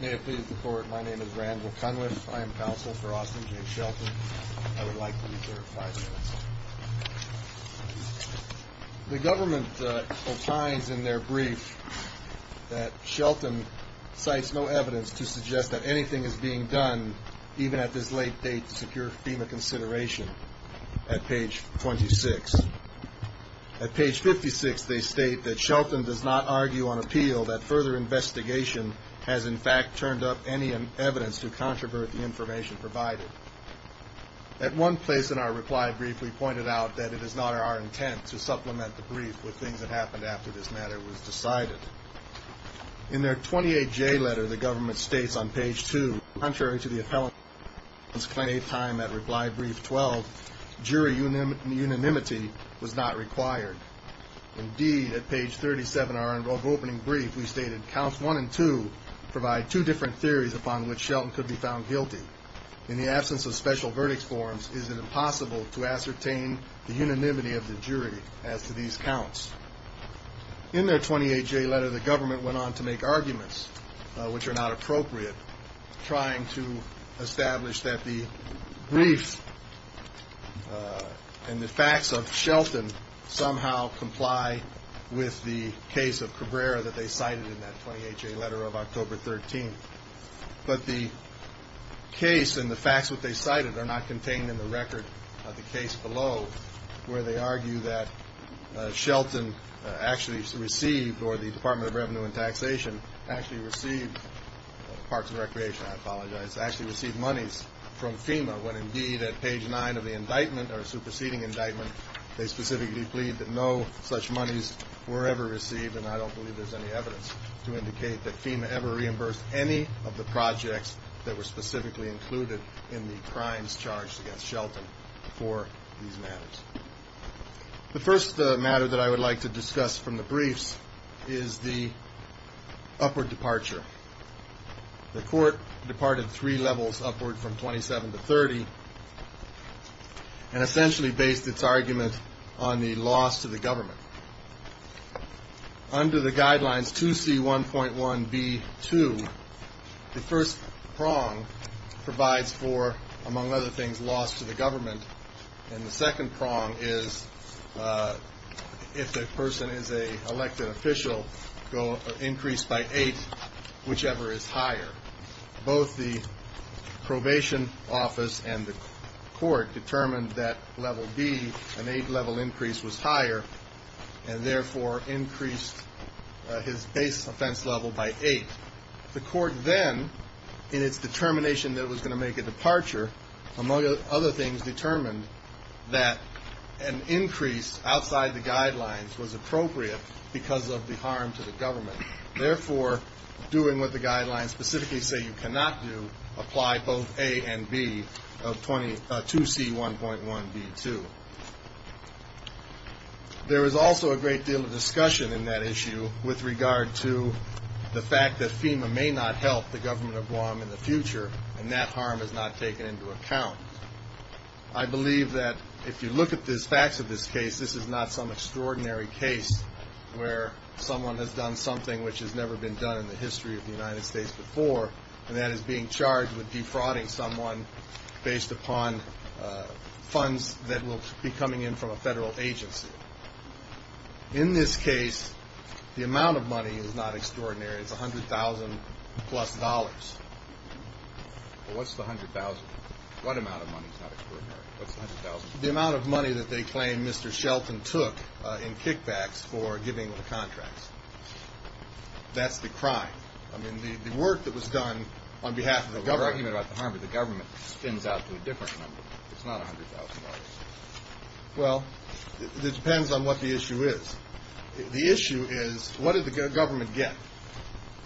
May it please the Court, my name is Randall Cunliffe. I am counsel for Austin J. Shelton. I would like to reserve five minutes. The government opines in their brief that Shelton cites no evidence to suggest that anything is being done even at this late date to secure FEMA consideration at page 26. At page 56 they state that Shelton does not argue on appeal that further investigation has in fact turned up any evidence to controvert the information provided. At one place in our reply brief we pointed out that it is not our intent to supplement the brief with things that happened after this matter was decided. In their 28J letter the government states on page 2, contrary to the appellant's claim time at reply brief 12, jury unanimity was not required. Indeed at page 37 of our opening brief we stated that counts one and two provide two different theories upon which Shelton could be found guilty. In the absence of special verdict forms is it impossible to ascertain the unanimity of the jury as to these counts. In their 28J letter the government went on to make arguments which are not appropriate trying to establish that the brief and the facts of Shelton somehow comply with the case of Cabrera that they cited in that 28J letter of October 13. But the case and the facts that they cited are not contained in the record of the case below where they argue that Shelton actually received or the Department of Revenue and Taxation actually received Parks and Recreation, I apologize, actually received monies from FEMA when indeed at page 9 of the indictment or superseding indictment they specifically plead that no such monies were ever received and I don't believe there's any evidence to indicate that FEMA ever reimbursed any of the projects that were specifically included in the crimes charged against Shelton for these matters. The first matter that I would like to discuss from the briefs is the upward departure. The court and essentially based its argument on the loss to the government. Under the guidelines 2C1.1B2, the first prong provides for, among other things, loss to the government, and the second prong is if the person is an elected official, increase by eight whichever is higher. Both the probation office and the court determined that level B, an eight level increase, was higher and therefore increased his base offense level by eight. The court then in its determination that it was going to make a departure, among other things, determined that an increase outside the guidelines was appropriate because of the harm to the government. Therefore, doing what the guidelines specifically say you cannot do, apply both A and B of 2C1.1B2. There is also a great deal of discussion in that issue with regard to the fact that FEMA may not help the government of Guam in the future and that harm is not taken into account. I believe that if you look at the facts of this case, this is not some extraordinary case where someone has done something which has never been done in the history of the United States before and that is being charged with defrauding someone based upon funds that will be coming in from a federal agency. In this case, the amount of money is not extraordinary. It's $100,000 plus. What's the $100,000? What amount of money is not extraordinary? What's the $100,000? The amount of money that they claim Mr. Shelton took in kickbacks for giving the contracts. That's the crime. I mean, the work that was done on behalf of the government. But when you're talking about the harm to the government, it spins out to a different number. It's not $100,000. Well, it depends on what the issue is. The issue is what did the government get?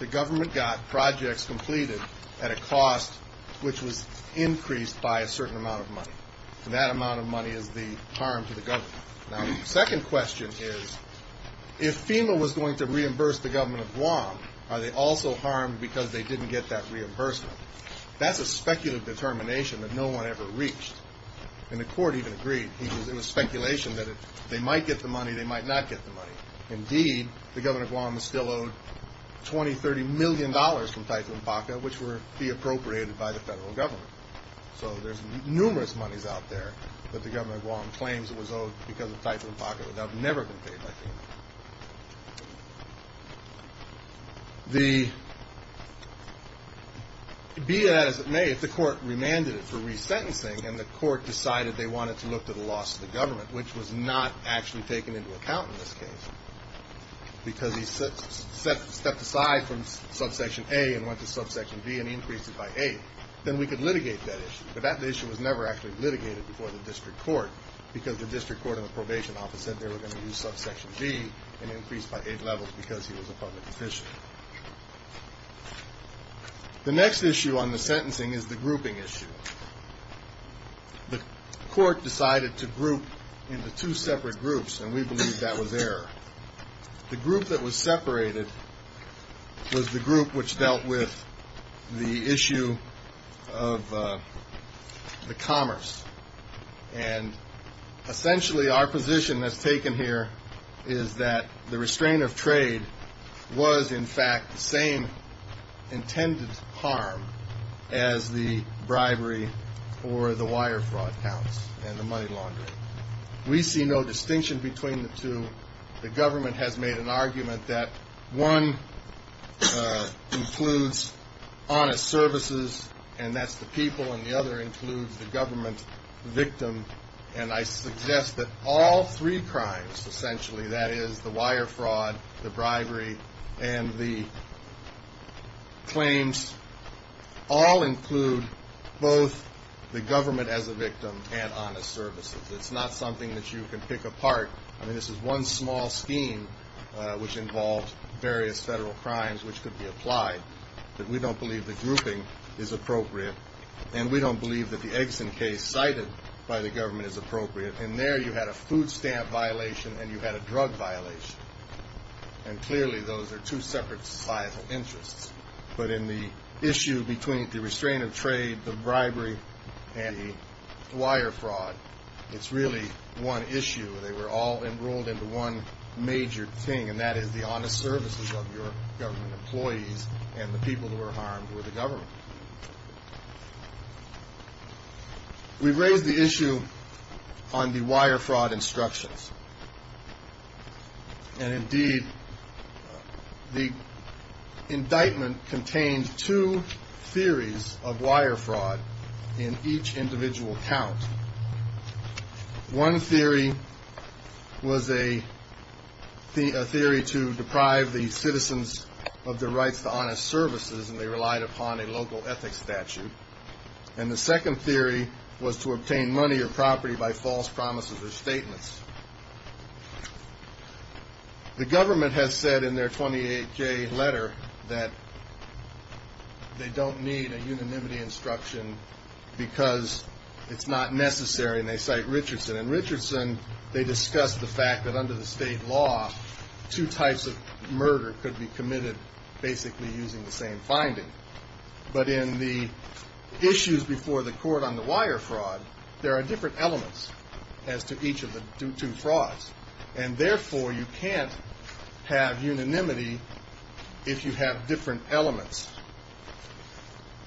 The government got projects completed at a cost which was increased by a certain amount of money. And that amount of money is the harm to the government. Now, the second question is if FEMA was going to reimburse the government of Guam, are they also harmed because they didn't get that reimbursement? That's a speculative determination that no one ever reached. And the court even agreed. It was speculation that they might get the money, they might not get the money. Indeed, the government of Guam was still owed $20, $30 million from Typhoon Baca, which would be appropriated by the federal government. So there's numerous monies out there that the government of Guam claims it was owed because of Typhoon Baca that have never been paid by FEMA. Be that as it may, the court remanded it for resentencing, and the court decided they wanted to look to the loss of the government, which was not actually taken into account in this case, because he stepped aside from subsection A and went to subsection B and increased it by A. Then we could litigate that issue. But that issue was never actually litigated before the district court because the district court and the probation office said they were going to use subsection B and increase by A levels because he was a public official. The next issue on the sentencing is the grouping issue. The court decided to group into two separate groups, and we believe that was error. The group that was separated was the group which dealt with the issue of the commerce. And essentially our position that's taken here is that the restraint of trade was in fact the same intended harm as the bribery or the wire fraud counts and the money laundering. We see no distinction between the two. The government has made an argument that one includes honest services, and that's the people, and the other includes the government victim. And I suggest that all three crimes, essentially, that is the wire fraud, the bribery, and the claims, all include both the government as a victim and honest services. It's not something that you can pick apart. I mean, this is one small scheme which involved various federal crimes which could be applied, but we don't believe the grouping is appropriate, and we don't believe that the Eggson case cited by the government is appropriate. And there you had a food stamp violation and you had a drug violation, and clearly those are two separate societal interests. But in the issue between the restraint of trade, the bribery, and the wire fraud, it's really one issue. They were all enrolled into one major thing, and that is the honest services of your government employees and the people who were harmed were the government. We've raised the issue on the wire fraud instructions. And indeed, the indictment contained two theories of wire fraud in each individual count. One theory was a theory to deprive the citizens of their rights to honest services, and they relied upon a local ethics statute. And the second theory was to obtain money or property by false promises or statements. The government has said in their 28-K letter that they don't need a unanimity instruction because it's not necessary, and they cite Richardson. In Richardson, they discuss the fact that under the state law, two types of murder could be committed basically using the same finding. But in the issues before the court on the wire fraud, there are different elements as to each of the two frauds, and therefore you can't have unanimity if you have different elements.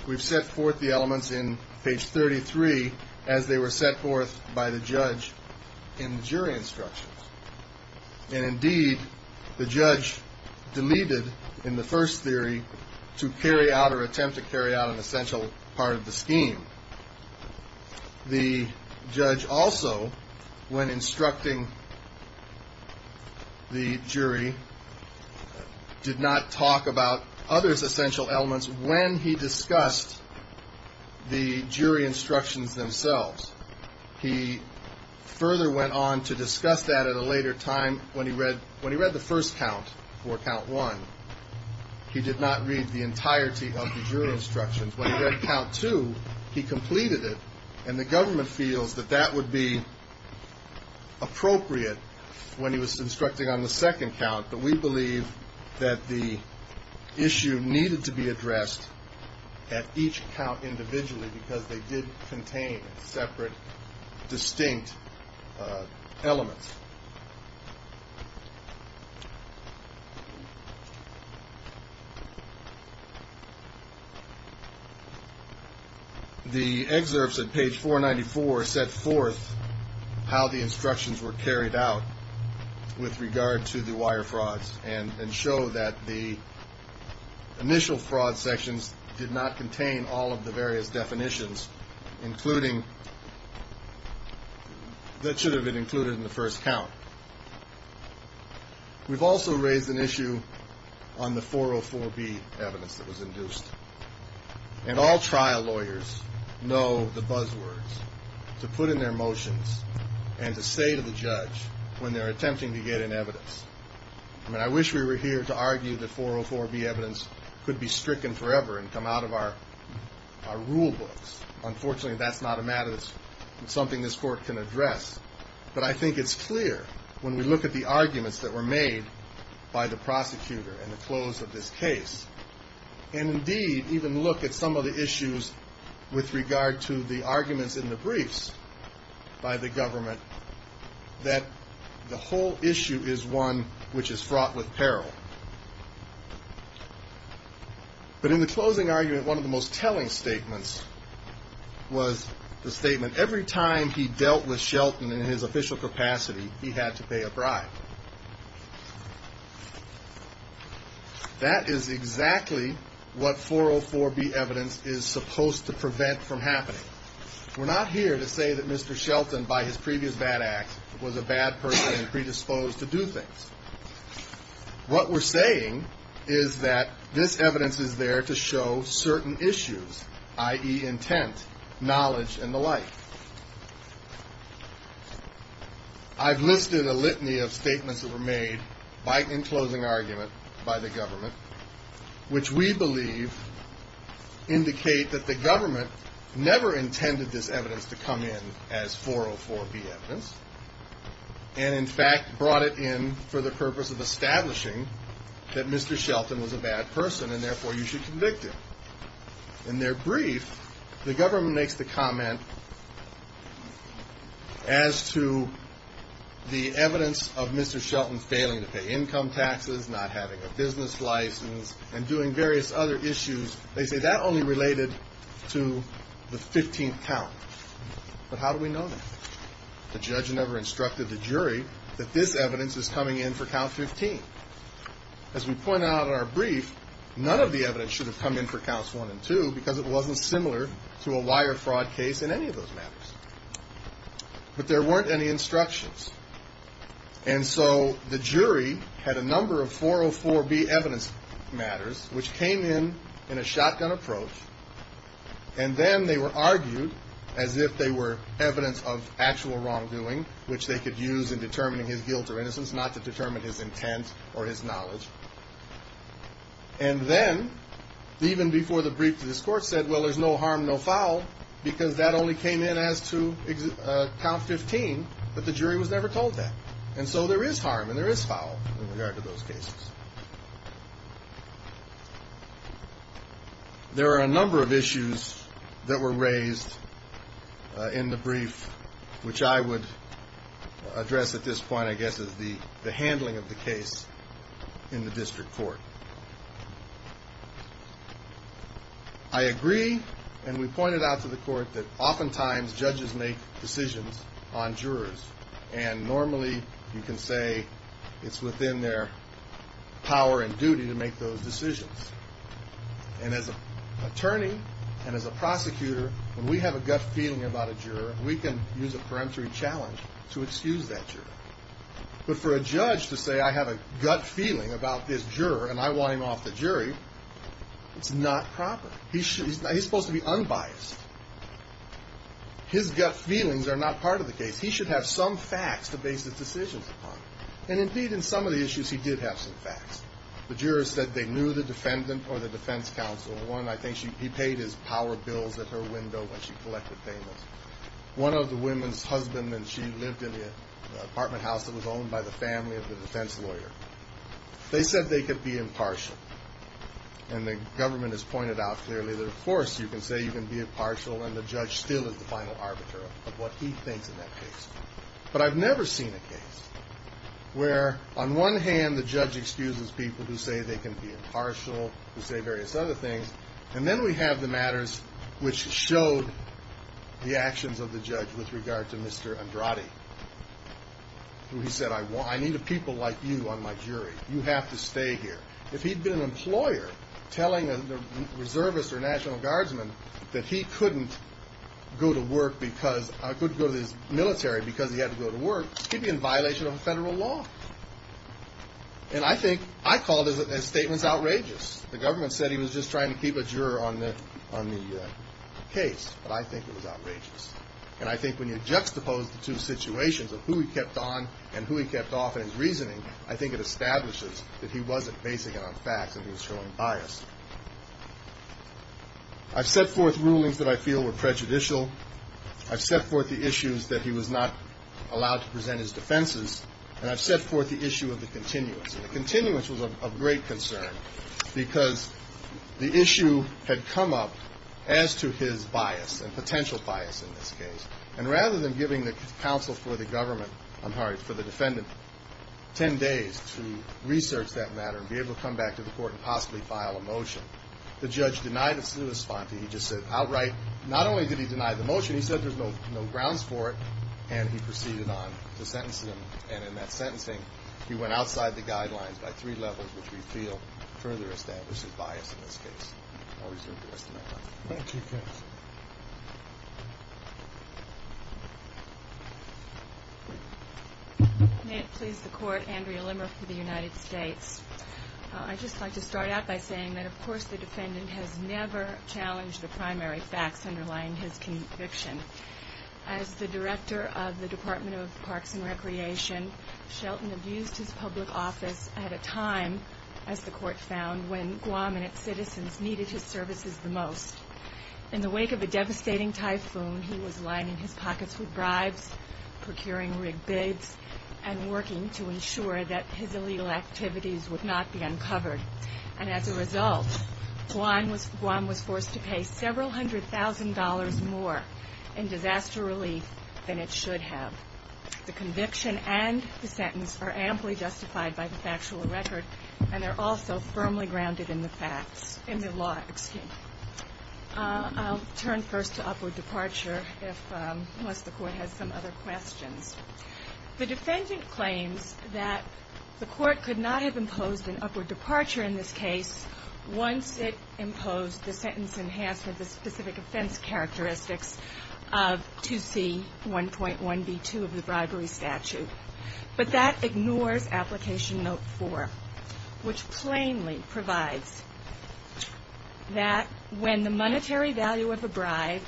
We've set forth the elements in page 33 as they were set forth by the judge in the jury instructions. And indeed, the judge deleted in the first theory to carry out or attempt to carry out an essential part of the scheme. The judge also, when instructing the jury, did not talk about others' essential elements when he discussed the jury instructions themselves. He further went on to discuss that at a later time when he read the first count for count one. He did not read the entirety of the jury instructions. When he read count two, he completed it, and the government feels that that would be appropriate when he was instructing on the second count. But we believe that the issue needed to be addressed at each count individually because they did contain separate, distinct elements. The excerpts at page 494 set forth how the instructions were carried out with regard to the wire frauds and show that the initial fraud sections did not contain all of the various definitions that should have been included in the first count. We've also raised an issue on the 404B evidence that was induced. And all trial lawyers know the buzzwords to put in their motions and to say to the judge when they're attempting to get an evidence. I mean, I wish we were here to argue that 404B evidence could be stricken forever and come out of our rule books. Unfortunately, that's not a matter that's something this court can address. But I think it's clear when we look at the arguments that were made by the prosecutor in the close of this case, and indeed even look at some of the issues with regard to the arguments in the briefs by the government, that the whole issue is one which is fraught with peril. But in the closing argument, one of the most telling statements was the statement, every time he dealt with Shelton in his official capacity, he had to pay a bribe. That is exactly what 404B evidence is supposed to prevent from happening. We're not here to say that Mr. Shelton, by his previous bad act, was a bad person and predisposed to do things. What we're saying is that this evidence is there to show certain issues, i.e. intent, knowledge, and the like. I've listed a litany of statements that were made in closing argument by the government, which we believe indicate that the government never intended this evidence to come in as 404B evidence, and in fact brought it in for the purpose of establishing that Mr. Shelton was a bad person, and therefore you should convict him. In their brief, the government makes the comment as to the evidence of Mr. Shelton failing to pay income taxes, not having a business license, and doing various other issues. They say that only related to the 15th count. But how do we know that? The judge never instructed the jury that this evidence is coming in for count 15. As we point out in our brief, none of the evidence should have come in for counts 1 and 2 because it wasn't similar to a wire fraud case in any of those matters. But there weren't any instructions. And so the jury had a number of 404B evidence matters, which came in in a shotgun approach, and then they were argued as if they were evidence of actual wrongdoing, which they could use in determining his guilt or innocence, not to determine his intent or his knowledge. And then, even before the brief, this court said, well, there's no harm, no foul, because that only came in as to count 15, but the jury was never told that. And so there is harm and there is foul in regard to those cases. There are a number of issues that were raised in the brief, which I would address at this point, I guess, as the handling of the case in the district court. I agree, and we pointed out to the court, that oftentimes judges make decisions on jurors. And normally you can say it's within their power and duty to make those decisions. And as an attorney and as a prosecutor, when we have a gut feeling about a juror, we can use a peremptory challenge to excuse that juror. But for a judge to say, I have a gut feeling about this juror and I want him off the jury, it's not proper. He's supposed to be unbiased. His gut feelings are not part of the case. He should have some facts to base his decisions upon. And indeed, in some of the issues, he did have some facts. The jurors said they knew the defendant or the defense counsel. One, I think he paid his power bills at her window when she collected payments. One of the women's husbands, and she lived in the apartment house that was owned by the family of the defense lawyer, they said they could be impartial. And the government has pointed out clearly that, of course, you can say you can be impartial, and the judge still is the final arbiter of what he thinks in that case. But I've never seen a case where, on one hand, the judge excuses people who say they can be impartial, who say various other things, and then we have the matters which showed the actions of the judge with regard to Mr. Andrade, who he said, I need a people like you on my jury. You have to stay here. If he'd been an employer telling a reservist or a National Guardsman that he couldn't go to work because he had to go to work, he'd be in violation of federal law. And I think I call those statements outrageous. The government said he was just trying to keep a juror on the case, but I think it was outrageous. And I think when you juxtapose the two situations of who he kept on and who he kept off in his reasoning, I think it establishes that he wasn't basing it on facts and he was showing bias. I've set forth rulings that I feel were prejudicial. I've set forth the issues that he was not allowed to present his defenses, and I've set forth the issue of the continuance. And the continuance was of great concern because the issue had come up as to his bias and potential bias in this case. And rather than giving the counsel for the government, I'm sorry, for the defendant 10 days to research that matter and be able to come back to the court and possibly file a motion, the judge denied his response. He just said outright. Not only did he deny the motion, he said there's no grounds for it, and he proceeded on to sentencing him. And in that sentencing, he went outside the guidelines by three levels, which we feel further establishes bias in this case. I'll reserve the rest of my time. Thank you, Chris. May it please the court, Andrea Limmer for the United States. I'd just like to start out by saying that, of course, the defendant has never challenged the primary facts underlying his conviction. As the director of the Department of Parks and Recreation, Shelton abused his public office at a time, as the court found, when Guam and its citizens needed his services the most. In the wake of a devastating typhoon, he was lining his pockets with bribes, procuring rigged bids, and working to ensure that his illegal activities would not be uncovered. And as a result, Guam was forced to pay several hundred thousand dollars more in disaster relief than it should have. The conviction and the sentence are amply justified by the factual record, and they're also firmly grounded in the facts, in the law. Excuse me. I'll turn first to upward departure, unless the court has some other questions. The defendant claims that the court could not have imposed an upward departure in this case once it imposed the sentence enhancement, the specific offense characteristics of 2C1.1b2 of the bribery statute. But that ignores Application Note 4, which plainly provides that when the monetary value of a bribe,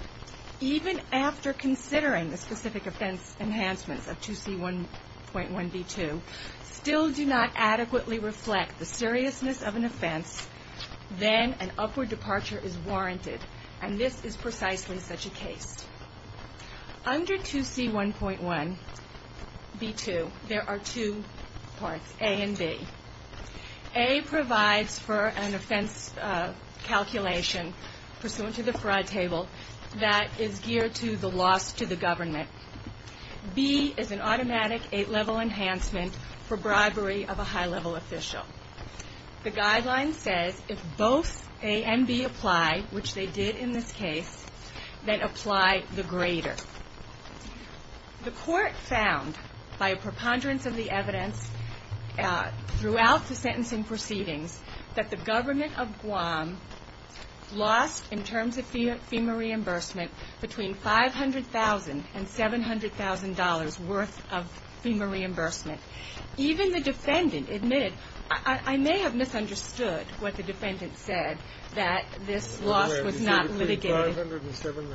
even after considering the specific offense enhancements of 2C1.1b2, still do not adequately reflect the seriousness of an offense, then an upward departure is warranted. And this is precisely such a case. Under 2C1.1b2, there are two parts, A and B. A provides for an offense calculation pursuant to the fraud table that is geared to the loss to the government. B is an automatic eight-level enhancement for bribery of a high-level official. The guideline says if both A and B apply, which they did in this case, then apply the greater. The court found, by a preponderance of the evidence throughout the sentencing proceedings, that the government of Guam lost, in terms of FEMA reimbursement, between $500,000 and $700,000 worth of FEMA reimbursement. Even the defendant admitted, I may have misunderstood what the defendant said, that this loss was not litigated. Between $500,000 and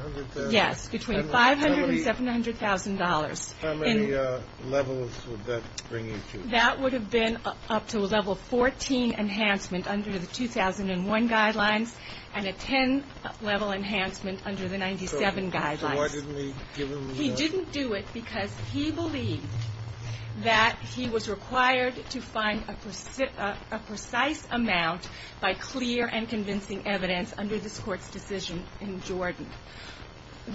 $700,000? Yes, between $500,000 and $700,000. How many levels would that bring you to? That would have been up to a level 14 enhancement under the 2001 guidelines, and a 10-level enhancement under the 97 guidelines. So why didn't he give a reward? He didn't do it because he believed that he was required to find a precise amount by clear and convincing evidence under this Court's decision in Jordan.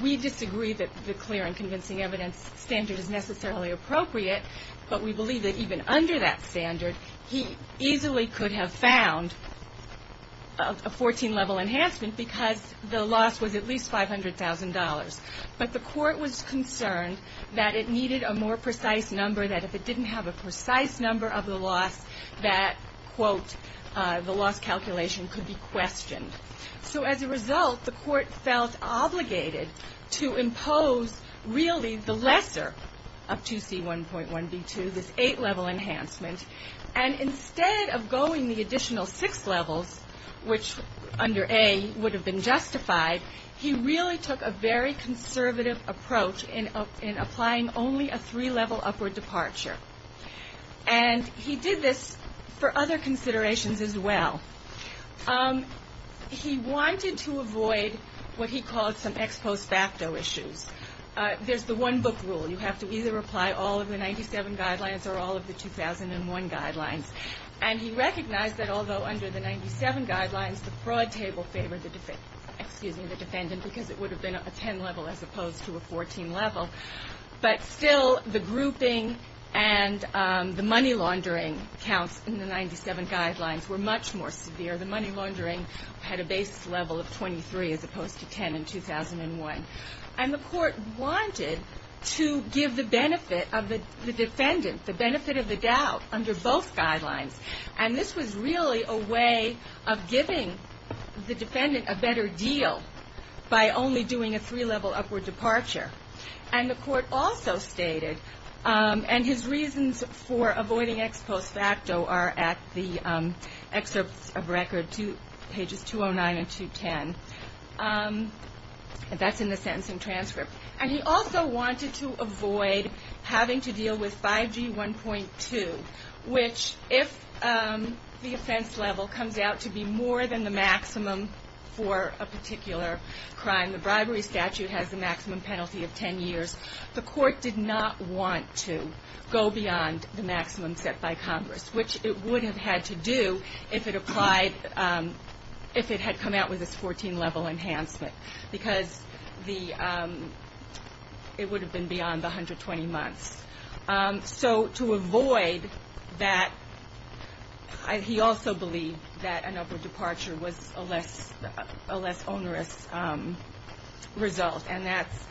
We disagree that the clear and convincing evidence standard is necessarily appropriate, but we believe that even under that standard, he easily could have found a 14-level enhancement because the loss was at least $500,000. But the Court was concerned that it needed a more precise number, that if it didn't have a precise number of the loss, that, quote, the loss calculation could be questioned. So as a result, the Court felt obligated to impose really the lesser of 2C1.1b2, this 8-level enhancement. And instead of going the additional 6 levels, which under A would have been justified, he really took a very conservative approach in applying only a 3-level upward departure. And he did this for other considerations as well. He wanted to avoid what he called some ex post facto issues. There's the one-book rule. You have to either apply all of the 97 guidelines or all of the 2001 guidelines. And he recognized that although under the 97 guidelines, the fraud table favored the defendant because it would have been a 10-level as opposed to a 14-level, but still the grouping and the money laundering counts in the 97 guidelines were much more severe. The money laundering had a base level of 23 as opposed to 10 in 2001. And the Court wanted to give the benefit of the defendant, the benefit of the doubt, under both guidelines. And this was really a way of giving the defendant a better deal by only doing a 3-level upward departure. And the Court also stated, and his reasons for avoiding ex post facto are at the excerpts of record pages 209 and 210. That's in the sentencing transcript. And he also wanted to avoid having to deal with 5G1.2, which if the offense level comes out to be more than the maximum for a particular crime, the bribery statute has the maximum penalty of 10 years. The Court did not want to go beyond the maximum set by Congress, which it would have had to do if it applied, if it had come out with this 14-level enhancement, because it would have been beyond the 120 months. So to avoid that, he also believed that an upward departure was a less onerous result. And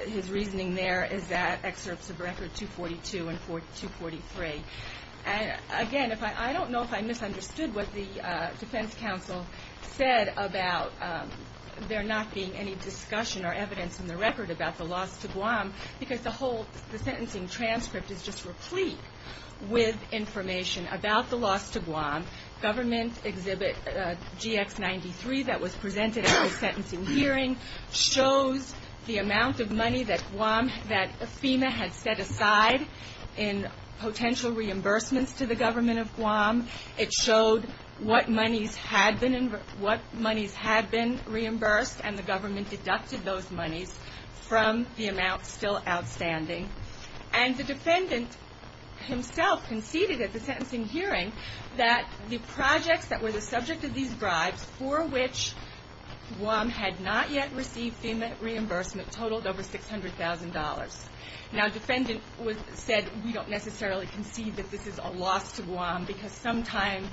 his reasoning there is at excerpts of record 242 and 243. Again, I don't know if I misunderstood what the defense counsel said about there not being any discussion or evidence in the record about the loss to Guam, because the whole sentencing transcript is just replete with information about the loss to Guam. Government Exhibit GX93 that was presented at the sentencing hearing shows the amount of money that FEMA had set aside in potential reimbursements to the government of Guam. It showed what monies had been reimbursed, and the government deducted those monies from the amount still outstanding. And the defendant himself conceded at the sentencing hearing that the projects that were the subject of these bribes, for which Guam had not yet received FEMA reimbursement, totaled over $600,000. Now, the defendant said, we don't necessarily concede that this is a loss to Guam, because sometime,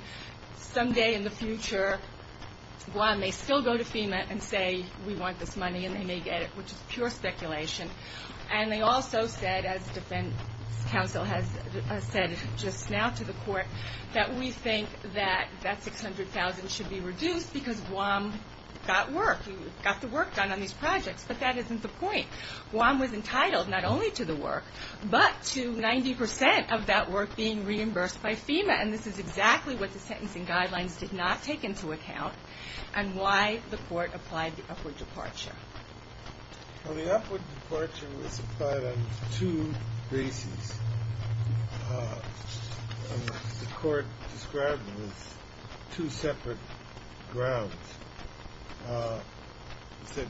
someday in the future, Guam may still go to FEMA and say, we want this money, and they may get it, which is pure speculation. And they also said, as defense counsel has said just now to the court, that we think that that $600,000 should be reduced because Guam got work, got the work done on these projects. But that isn't the point. Guam was entitled not only to the work, but to 90 percent of that work being reimbursed by FEMA. And this is exactly what the sentencing guidelines did not take into account and why the court applied the upward departure. Well, the upward departure was applied on two bases. The court described them as two separate grounds. It said,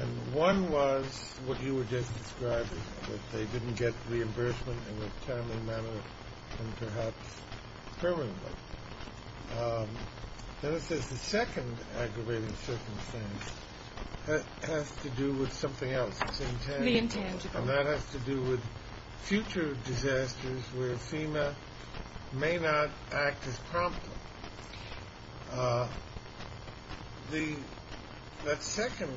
and one was what you were just describing, that they didn't get reimbursement in a timely manner and perhaps permanently. Then it says the second aggravating circumstance has to do with something else. It's intangible. The intangible. And that has to do with future disasters where FEMA may not act as promptly. The second,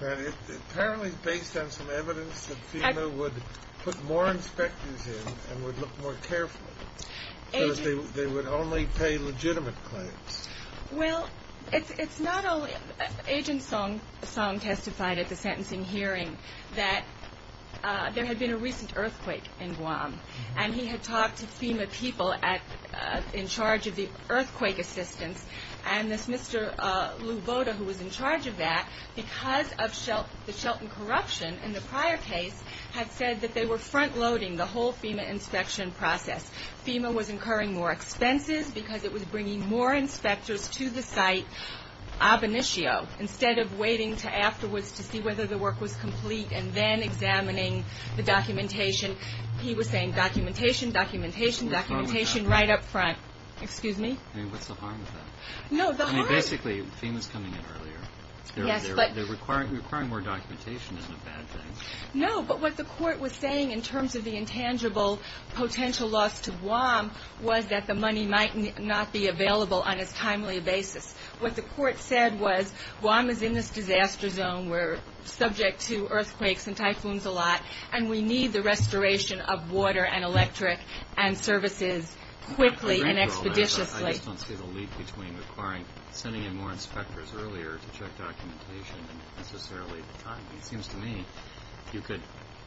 apparently based on some evidence, that FEMA would put more inspectors in and would look more carefully. Because they would only pay legitimate claims. Well, it's not only, Agent Song testified at the sentencing hearing that there had been a recent earthquake in Guam. And he had talked to FEMA people in charge of the earthquake assistance. And this Mr. Lou Boda who was in charge of that, because of the Shelton corruption in the prior case, had said that they were front-loading the whole FEMA inspection process. FEMA was incurring more expenses because it was bringing more inspectors to the site ab initio, instead of waiting to afterwards to see whether the work was complete and then examining the documentation. He was saying documentation, documentation, documentation right up front. Excuse me? I mean, what's the harm with that? No, the harm. I mean, basically FEMA's coming in earlier. Yes, but. They're requiring more documentation isn't a bad thing. No, but what the court was saying in terms of the intangible potential loss to Guam was that the money might not be available on as timely a basis. What the court said was Guam is in this disaster zone. We're subject to earthquakes and typhoons a lot. And we need the restoration of water and electric and services quickly and expeditiously. I just don't see the leap between requiring, sending in more inspectors earlier to check documentation than necessarily the time. It seems to me you could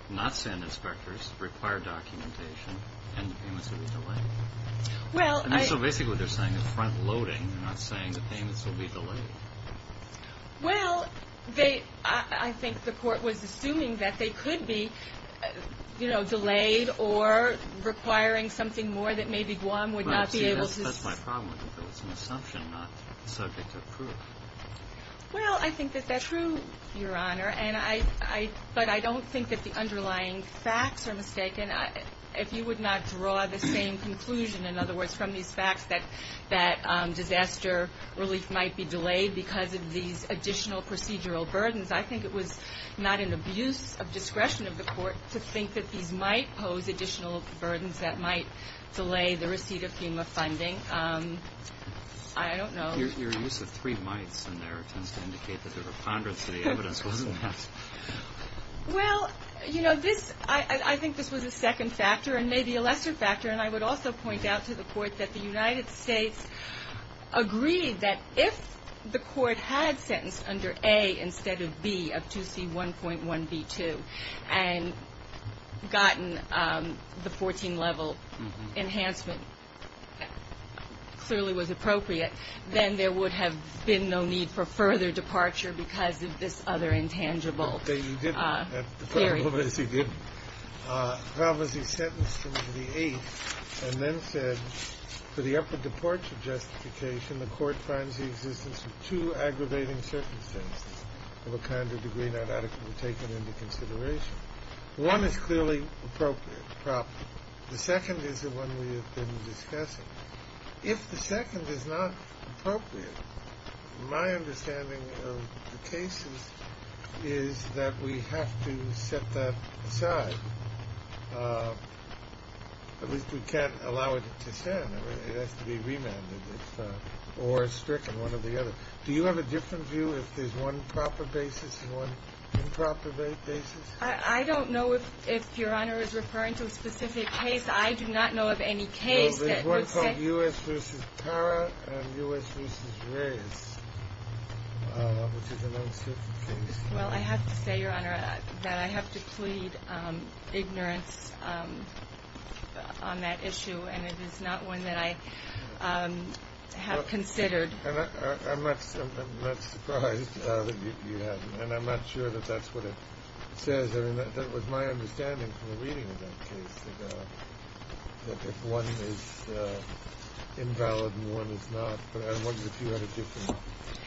not send inspectors, require documentation, and the payments would be delayed. Well, I. So basically what they're saying is front loading. They're not saying the payments will be delayed. Well, they, I think the court was assuming that they could be, you know, delayed or requiring something more that maybe Guam would not be able to. Well, see, that's my problem. It's an assumption not subject to proof. Well, I think that that's true, Your Honor. And I, but I don't think that the underlying facts are mistaken. If you would not draw the same conclusion, in other words, from these facts, that disaster relief might be delayed because of these additional procedural burdens, I think it was not an abuse of discretion of the court to think that these might pose additional burdens that might delay the receipt of FEMA funding. I don't know. Your use of three mights in there tends to indicate that there were ponderance to the evidence. Wasn't that? Well, you know, this, I think this was a second factor and maybe a lesser factor. And I would also point out to the court that the United States agreed that if the court had sentenced under A instead of B of 2C1.1B2 and gotten the 14-level enhancement, clearly was appropriate, then there would have been no need for further departure because of this other intangible theory. But you didn't. At the time of this, you didn't. How was he sentenced under the 8th and then said, for the upper departure justification, the court finds the existence of two aggravating circumstances of a kind or degree not adequately taken into consideration. One is clearly appropriate problem. The second is the one we have been discussing. If the second is not appropriate, my understanding of the cases is that we have to set that aside. At least we can't allow it to stand. It has to be remanded or stricken, one or the other. Do you have a different view if there's one proper basis and one improper basis? I don't know if Your Honor is referring to a specific case. I do not know of any case that would say. There's one called U.S. v. Parra and U.S. v. Reyes, which is an unsuitable case. Well, I have to say, Your Honor, that I have to plead ignorance on that issue, and it is not one that I have considered. I'm not surprised that you haven't, and I'm not sure that that's what it says. That was my understanding from the reading of that case, that if one is invalid and one is not, but I wonder if you had a different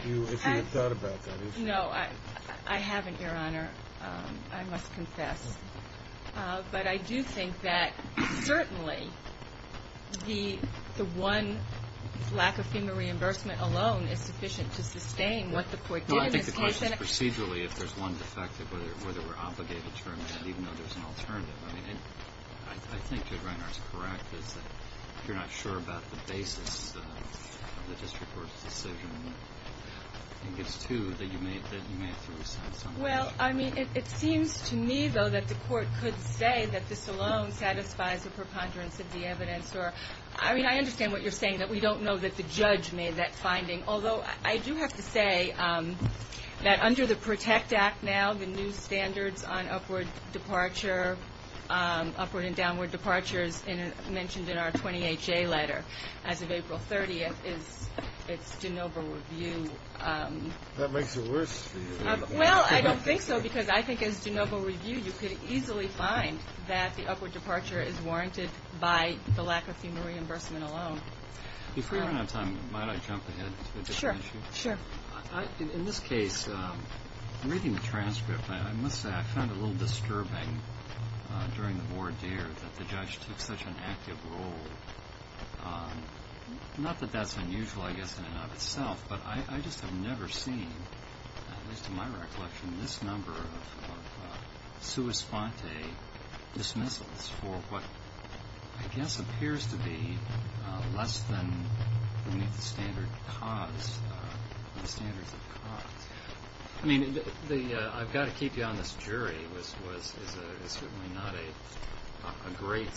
view, if you had thought about that. No, I haven't, Your Honor. I must confess. But I do think that certainly the one lack of FEMA reimbursement alone is sufficient to sustain what the Court did in this case. I think the question is procedurally if there's one defective, whether we're obligated to determine that even though there's an alternative. I mean, I think Judge Reinhardt's correct, is that you're not sure about the basis of the district court's decision. I think it's two that you may have to reassess on. Well, I mean, it seems to me, though, that the Court could say that this alone satisfies the preponderance of the evidence. I mean, I understand what you're saying, that we don't know that the judge made that finding, although I do have to say that under the PROTECT Act now, the new standards on upward departure, upward and downward departures, mentioned in our 20HA letter as of April 30th, it's de novo review. That makes it worse for you. Well, I don't think so, because I think as de novo review, you could easily find that the upward departure is warranted by the lack of FEMA reimbursement alone. If we don't have time, might I jump ahead to a different issue? Sure, sure. In this case, reading the transcript, I must say I found it a little disturbing during the voir dire that the judge took such an active role. Not that that's unusual, I guess, in and of itself, but I just have never seen, at least in my recollection, this number of sua sponte dismissals for what I guess appears to be less than the standard cause, the standards of cause. I mean, I've got to keep you on this, jury, this was certainly not a great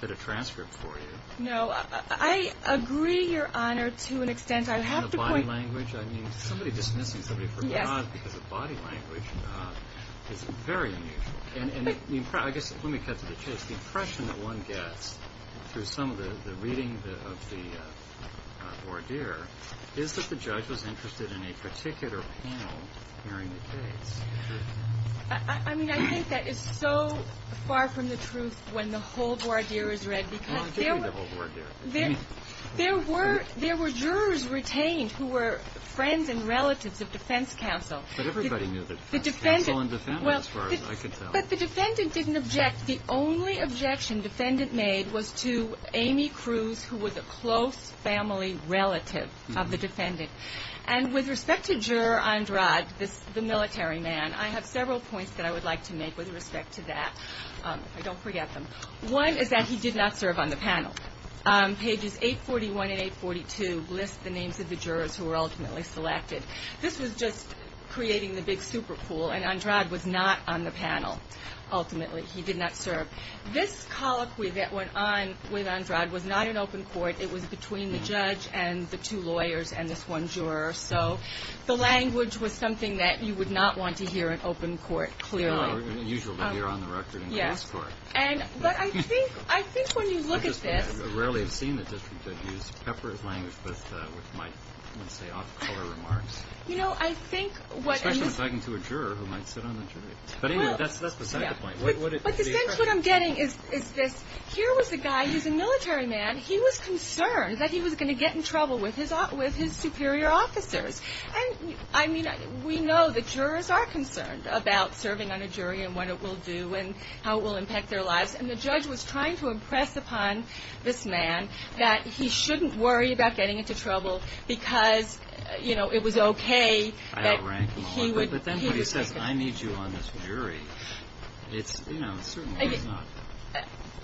bit of transcript for you. No, I agree, Your Honor, to an extent. Somebody dismissing somebody for cause because of body language is very unusual. Let me cut to the chase. The impression that one gets through some of the reading of the voir dire is that the judge was interested in a particular panel hearing the case. I mean, I think that is so far from the truth when the whole voir dire is read, because there were jurors retained who were friends and relatives of defense counsel. But everybody knew the defense counsel and the family, as far as I can tell. But the defendant didn't object. The only objection the defendant made was to Amy Cruz, who was a close family relative of the defendant. And with respect to Juror Andrade, the military man, I have several points that I would like to make with respect to that. I don't forget them. One is that he did not serve on the panel. Pages 841 and 842 list the names of the jurors who were ultimately selected. This was just creating the big super pool, and Andrade was not on the panel, ultimately. He did not serve. This colloquy that went on with Andrade was not in open court. It was between the judge and the two lawyers and this one juror. So the language was something that you would not want to hear in open court, clearly. It's unusual to hear on the record in open court. But I think when you look at this. I rarely have seen the district that use pepper language with, let's say, off-color remarks. You know, I think what I'm getting is this. Here was a guy who's a military man. He was concerned that he was going to get in trouble with his superior officers. And, I mean, we know the jurors are concerned about serving on a jury and what it will do and how it will impact their lives. And the judge was trying to impress upon this man that he shouldn't worry about getting into trouble because, you know, it was okay that he would. But then when he says, I need you on this jury, it's, you know, certainly not.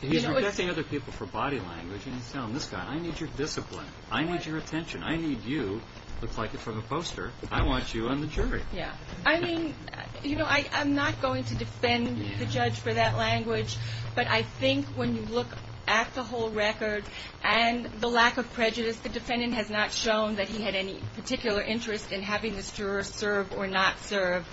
He's rejecting other people for body language. And he's telling this guy, I need your discipline. I need your attention. I need you. Looks like it from a poster. I want you on the jury. Yeah. I mean, you know, I'm not going to defend the judge for that language. But I think when you look at the whole record and the lack of prejudice, the defendant has not shown that he had any particular interest in having this juror serve or not serve.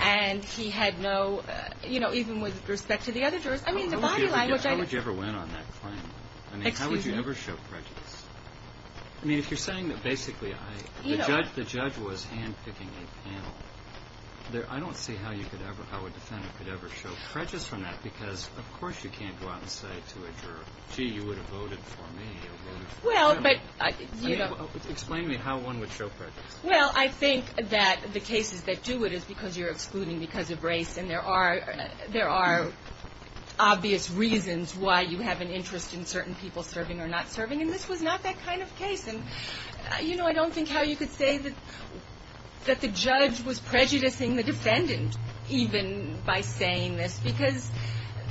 And he had no, you know, even with respect to the other jurors, I mean, the body language. How would you ever win on that claim? I mean, how would you ever show prejudice? I mean, if you're saying that basically the judge was handpicking a panel, I don't see how a defendant could ever show prejudice from that because, of course, you can't go out and say to a juror, gee, you would have voted for me. Explain to me how one would show prejudice. Well, I think that the cases that do it is because you're excluding because of race and there are obvious reasons why you have an interest in certain people serving or not serving. And this was not that kind of case. And, you know, I don't think how you could say that the judge was prejudicing the defendant even by saying this because,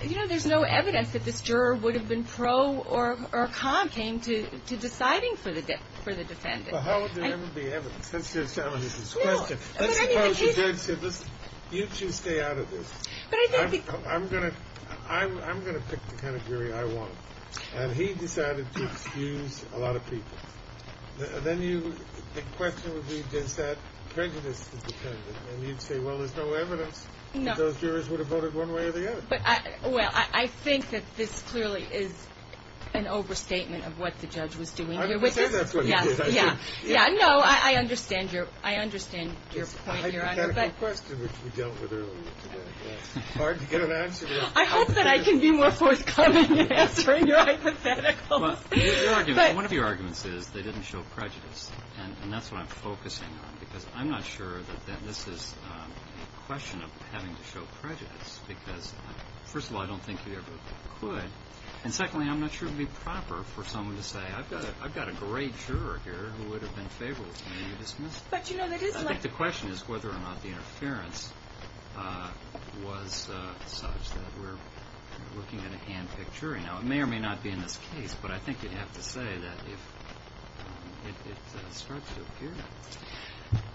you know, there's no evidence that this juror would have been pro or con came to deciding for the defendant. Well, how would there ever be evidence? That's just how it is. Let's suppose the judge said, listen, you two stay out of this. I'm going to pick the category I want. And he decided to excuse a lot of people. Then the question would be, does that prejudice the defendant? And you'd say, well, there's no evidence that those jurors would have voted one way or the other. Well, I think that this clearly is an overstatement of what the judge was doing here. I didn't say that's what he did. Yeah, no, I understand your point, Your Honor. It's a hypothetical question which we dealt with earlier today. It's hard to get an answer to that. I hope that I can be more forthcoming in answering your hypotheticals. One of your arguments is they didn't show prejudice. And that's what I'm focusing on because I'm not sure that this is a question of having to show prejudice because, first of all, I don't think you ever could. And, secondly, I'm not sure it would be proper for someone to say, I've got a great juror here who would have been favorable for me to dismiss. I think the question is whether or not the interference was such that we're looking at a hand-picked jury. Now, it may or may not be in this case, but I think you'd have to say that it starts to appear that way.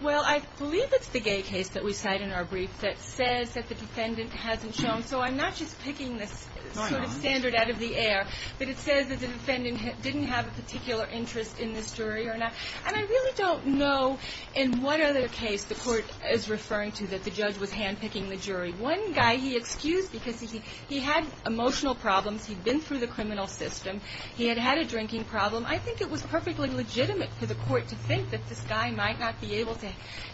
Well, I believe it's the gay case that we cite in our brief that says that the defendant hasn't shown. So I'm not just picking this sort of standard out of the air, but it says that the defendant didn't have a particular interest in this jury or not. And I really don't know in what other case the court is referring to that the judge was hand-picking the jury. One guy he excused because he had emotional problems. He'd been through the criminal system. He had had a drinking problem. I think it was perfectly legitimate for the court to think that this guy might not be able to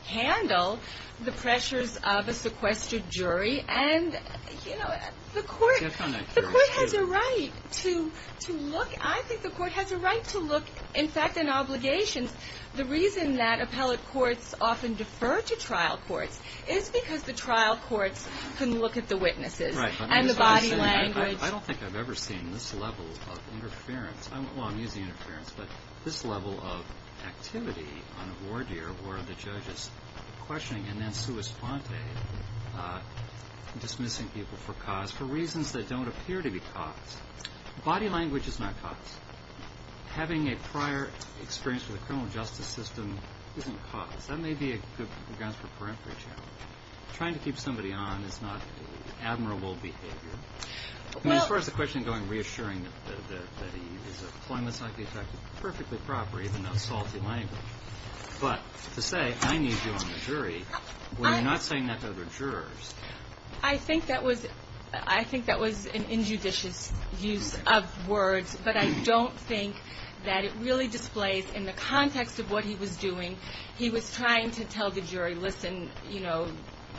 handle the pressures of a sequestered jury. And, you know, the court has a right to look. I think the court has a right to look. In fact, in obligations, the reason that appellate courts often defer to trial courts is because the trial courts can look at the witnesses and the body language. I don't think I've ever seen this level of interference. Well, I'm using interference. But this level of activity on a ward here, where the judge is questioning and then sua sponte, dismissing people for cause, for reasons that don't appear to be cause. Body language is not cause. Having a prior experience with the criminal justice system isn't cause. That may be a good grounds for a peremptory challenge. Trying to keep somebody on is not admirable behavior. Well. As far as the question going, reassuring that he is a plumber, perfectly proper, even though it's salty language. But to say, I need you on the jury, when you're not saying that to other jurors. I think that was an injudicious use of words. But I don't think that it really displays in the context of what he was doing. He was trying to tell the jury, listen, you know,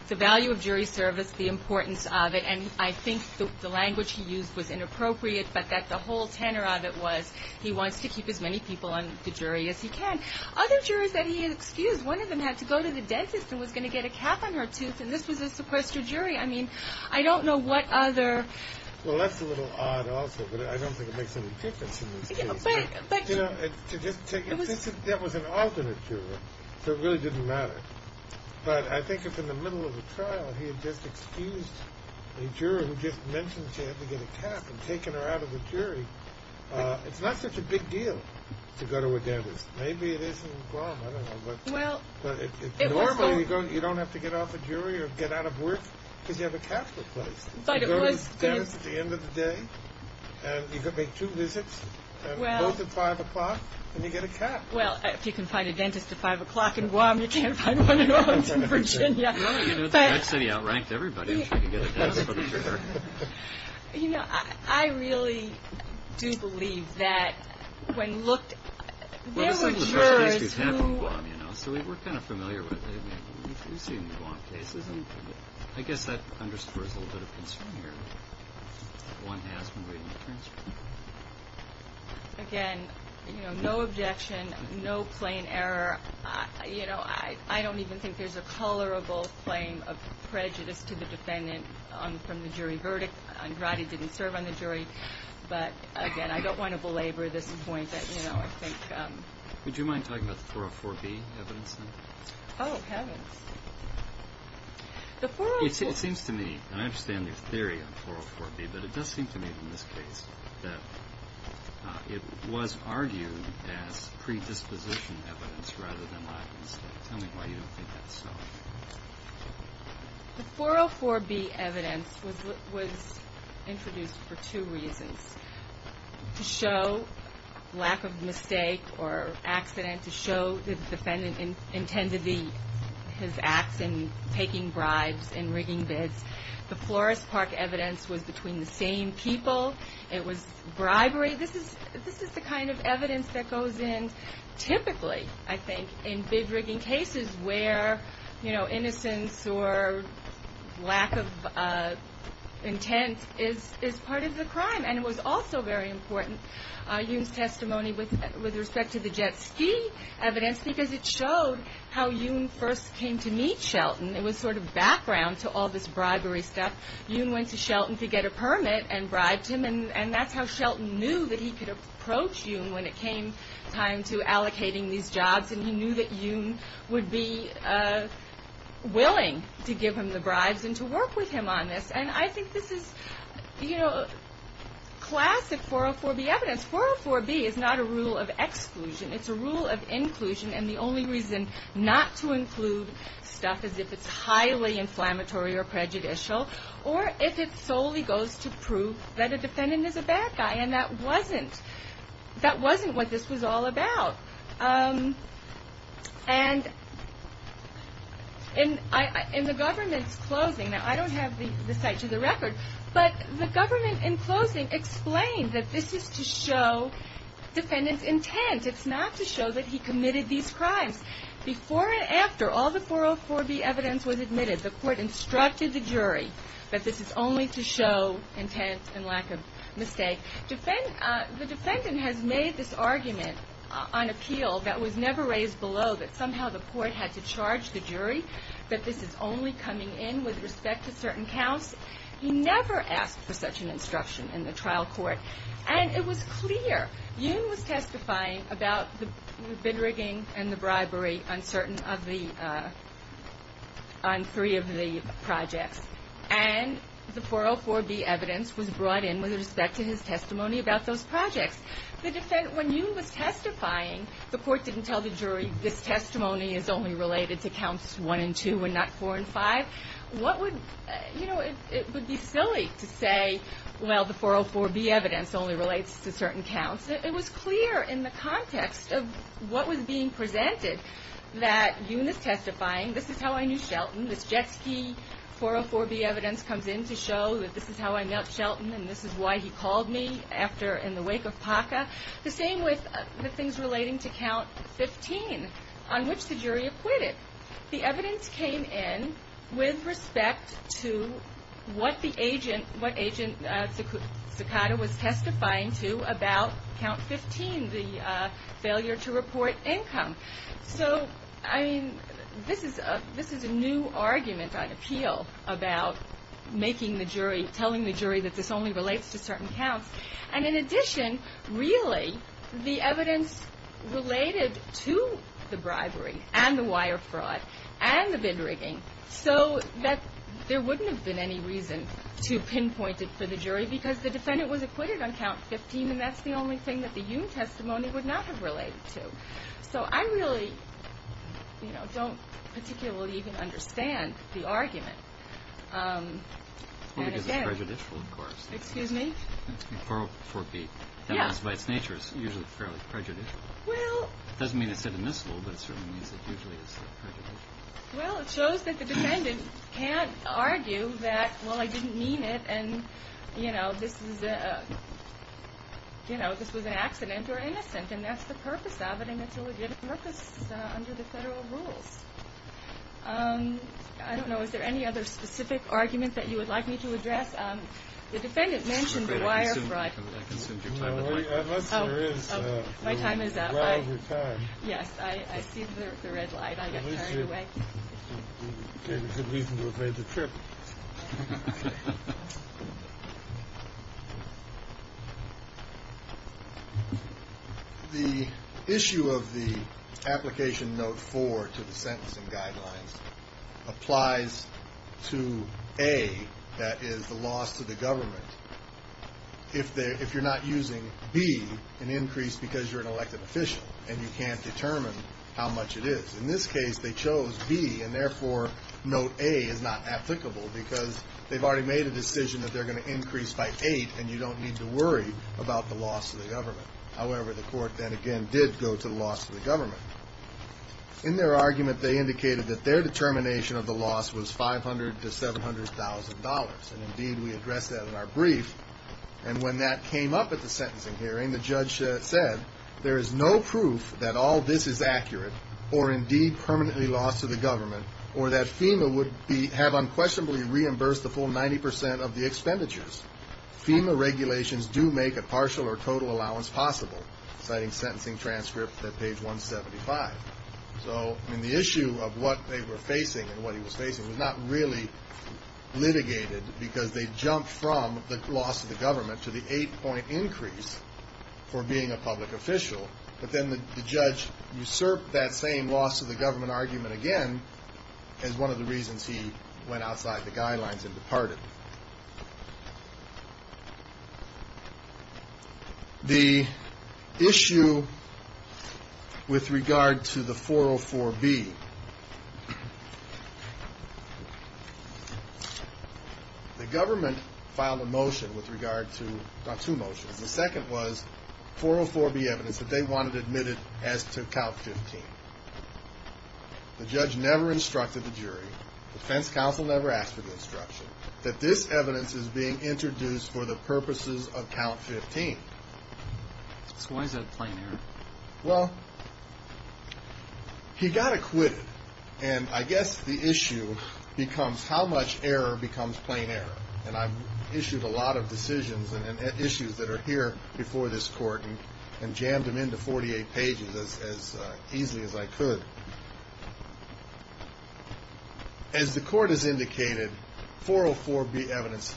the value of jury service, the importance of it. And I think the language he used was inappropriate. But that the whole tenor of it was, he wants to keep as many people on the jury as he can. Other jurors that he excused, one of them had to go to the dentist and was going to get a cap on her tooth. And this was a sequester jury. I mean, I don't know what other. Well, that's a little odd also. But I don't think it makes any difference in this case. You know, to just take it. That was an alternate juror. So it really didn't matter. But I think if in the middle of a trial he had just excused a juror who just mentioned she had to get a cap and taken her out of the jury, it's not such a big deal to go to a dentist. Maybe it is in Guam, I don't know. But normally you don't have to get off a jury or get out of work because you have a cap to replace. You go to the dentist at the end of the day, and you make two visits, both at 5 o'clock, and you get a cap. Well, if you can find a dentist at 5 o'clock in Guam, you can't find one in Owens in Virginia. That city outranked everybody in trying to get a dentist for the juror. You know, I really do believe that when looked, there were jurors who. Well, it's like the first case we've had from Guam, you know. So we're kind of familiar with it. We've seen Guam cases, and I guess that underscores a little bit of concern here. One has been waiting to transfer. Again, you know, no objection, no plain error. You know, I don't even think there's a colorable claim of prejudice to the defendant from the jury verdict. Andrade didn't serve on the jury. But, again, I don't want to belabor this point that, you know, I think. Would you mind talking about the 404B evidence? Oh, heavens. It seems to me, and I understand your theory on 404B, but it does seem to me in this case that it was argued as predisposition evidence rather than lack of mistake. Tell me why you don't think that's so. The 404B evidence was introduced for two reasons. To show lack of mistake or accident. To show the defendant intended his acts in taking bribes and rigging bids. The Flores Park evidence was between the same people. It was bribery. This is the kind of evidence that goes in typically, I think, in big rigging cases where, you know, innocence or lack of intent is part of the crime. And it was also very important, Yoon's testimony with respect to the jet ski evidence, because it showed how Yoon first came to meet Shelton. It was sort of background to all this bribery stuff. Yoon went to Shelton to get a permit and bribed him. And that's how Shelton knew that he could approach Yoon when it came time to allocating these jobs. And he knew that Yoon would be willing to give him the bribes and to work with him on this. And I think this is, you know, classic 404B evidence. 404B is not a rule of exclusion. It's a rule of inclusion. And the only reason not to include stuff is if it's highly inflammatory or prejudicial. Or if it solely goes to prove that a defendant is a bad guy. And that wasn't what this was all about. And in the government's closing, now I don't have the site to the record, but the government in closing explained that this is to show defendants' intent. It's not to show that he committed these crimes. Before and after all the 404B evidence was admitted, the court instructed the jury that this is only to show intent and lack of mistake. The defendant has made this argument on appeal that was never raised below that somehow the court had to charge the jury that this is only coming in with respect to certain counts. He never asked for such an instruction in the trial court. And it was clear Yoon was testifying about the bid rigging and the bribery on three of the projects. And the 404B evidence was brought in with respect to his testimony about those projects. When Yoon was testifying, the court didn't tell the jury this testimony is only related to counts 1 and 2 and not 4 and 5. What would, you know, it would be silly to say, well, the 404B evidence only relates to certain counts. It was clear in the context of what was being presented that Yoon is testifying, this is how I knew Shelton, this Jetski 404B evidence comes in to show that this is how I met Shelton and this is why he called me after in the wake of PACA. The same with the things relating to count 15 on which the jury acquitted. The evidence came in with respect to what the agent, what Agent Cicotta was testifying to about count 15, the failure to report income. So, I mean, this is a new argument on appeal about making the jury, telling the jury that this only relates to certain counts. And in addition, really, the evidence related to the bribery and the wire fraud and the bid rigging, so that there wouldn't have been any reason to pinpoint it for the jury because the defendant was acquitted on count 15 and that's the only thing that the Yoon testimony would not have related to. So I really, you know, don't particularly even understand the argument. And again... Well, because it's prejudicial, of course. Excuse me? 404B. Yes. By its nature, it's usually fairly prejudicial. Well... It doesn't mean it's indivisible, but it certainly means it usually is prejudicial. Well, it shows that the defendant can't argue that, well, I didn't mean it and, you know, this was an accident or innocent and that's the purpose of it and it's a legitimate purpose under the federal rules. I don't know. Is there any other specific argument that you would like me to address? The defendant mentioned the wire fraud. I'd like to send your time of work. Unless there is... My time is up. We're well over time. Yes. I see the red light. I got carried away. At least you gave us a reason to avoid the trip. Okay. The issue of the application note 4 to the sentencing guidelines applies to A, that is, the loss to the government, if you're not using B, an increase because you're an elected official and you can't determine how much it is. In this case, they chose B and, therefore, note A is not applicable because they've already made a decision that they're going to increase by 8 and you don't need to worry about the loss to the government. However, the court then again did go to the loss to the government. In their argument, they indicated that their determination of the loss was $500,000 to $700,000, and, indeed, we addressed that in our brief, and when that came up at the sentencing hearing, the judge said, there is no proof that all this is accurate or, indeed, permanently loss to the government or that FEMA would have unquestionably reimbursed the full 90% of the expenditures. FEMA regulations do make a partial or total allowance possible, citing sentencing transcript at page 175. So, I mean, the issue of what they were facing and what he was facing was not really litigated because they jumped from the loss to the government to the 8-point increase for being a public official, but then the judge usurped that same loss to the government argument again as one of the reasons he went outside the guidelines and departed. The issue with regard to the 404-B, the government filed a motion with regard to, well, two motions. The second was 404-B evidence that they wanted admitted as to count 15. The judge never instructed the jury, the defense counsel never asked for the instruction, that this evidence is being introduced for the purposes of count 15. So why is that a plain error? Well, he got acquitted, and I guess the issue becomes how much error becomes plain error, and I've issued a lot of decisions and issues that are here before this court and jammed them into 48 pages as easily as I could. As the court has indicated, 404-B evidence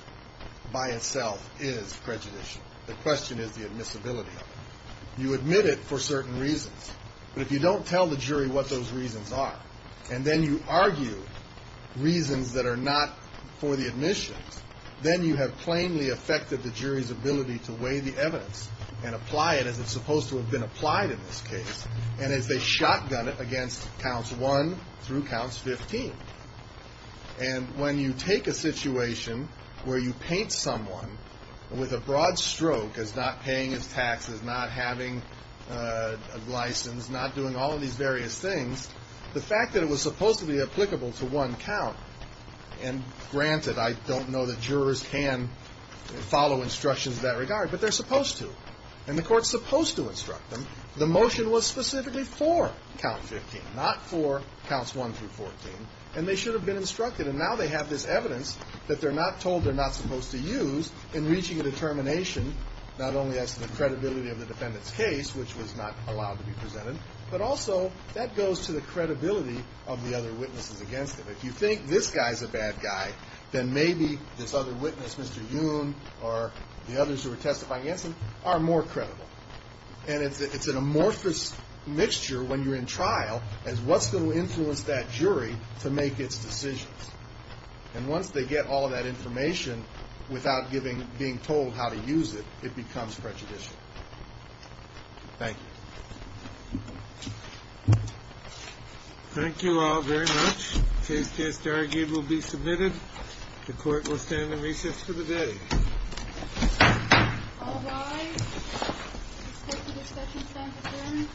by itself is prejudicial. The question is the admissibility of it. You admit it for certain reasons, but if you don't tell the jury what those reasons are, and then you argue reasons that are not for the admissions, then you have plainly affected the jury's ability to weigh the evidence and apply it as it's supposed to have been applied in this case, and as they shotgun it against counts 1 through counts 15. And when you take a situation where you paint someone with a broad stroke as not paying his taxes, not having a license, not doing all of these various things, the fact that it was supposed to be applicable to one count, and granted, I don't know that jurors can follow instructions in that regard, but they're supposed to, and the court's supposed to instruct them. The motion was specifically for count 15, not for counts 1 through 14, and they should have been instructed, and now they have this evidence that they're not told they're not supposed to use in reaching a determination not only as to the credibility of the defendant's case, which was not allowed to be presented, but also that goes to the credibility of the other witnesses against them. If you think this guy's a bad guy, then maybe this other witness, Mr. Yoon, or the others who were testifying against him, are more credible. And it's an amorphous mixture when you're in trial as what's going to influence that jury to make its decisions. And once they get all of that information without being told how to use it, it becomes prejudicial. Thank you. Thank you all very much. Case test argued will be submitted. The court will stand in recess for the day. All rise. This court's discussion is now adjourned. Thank you.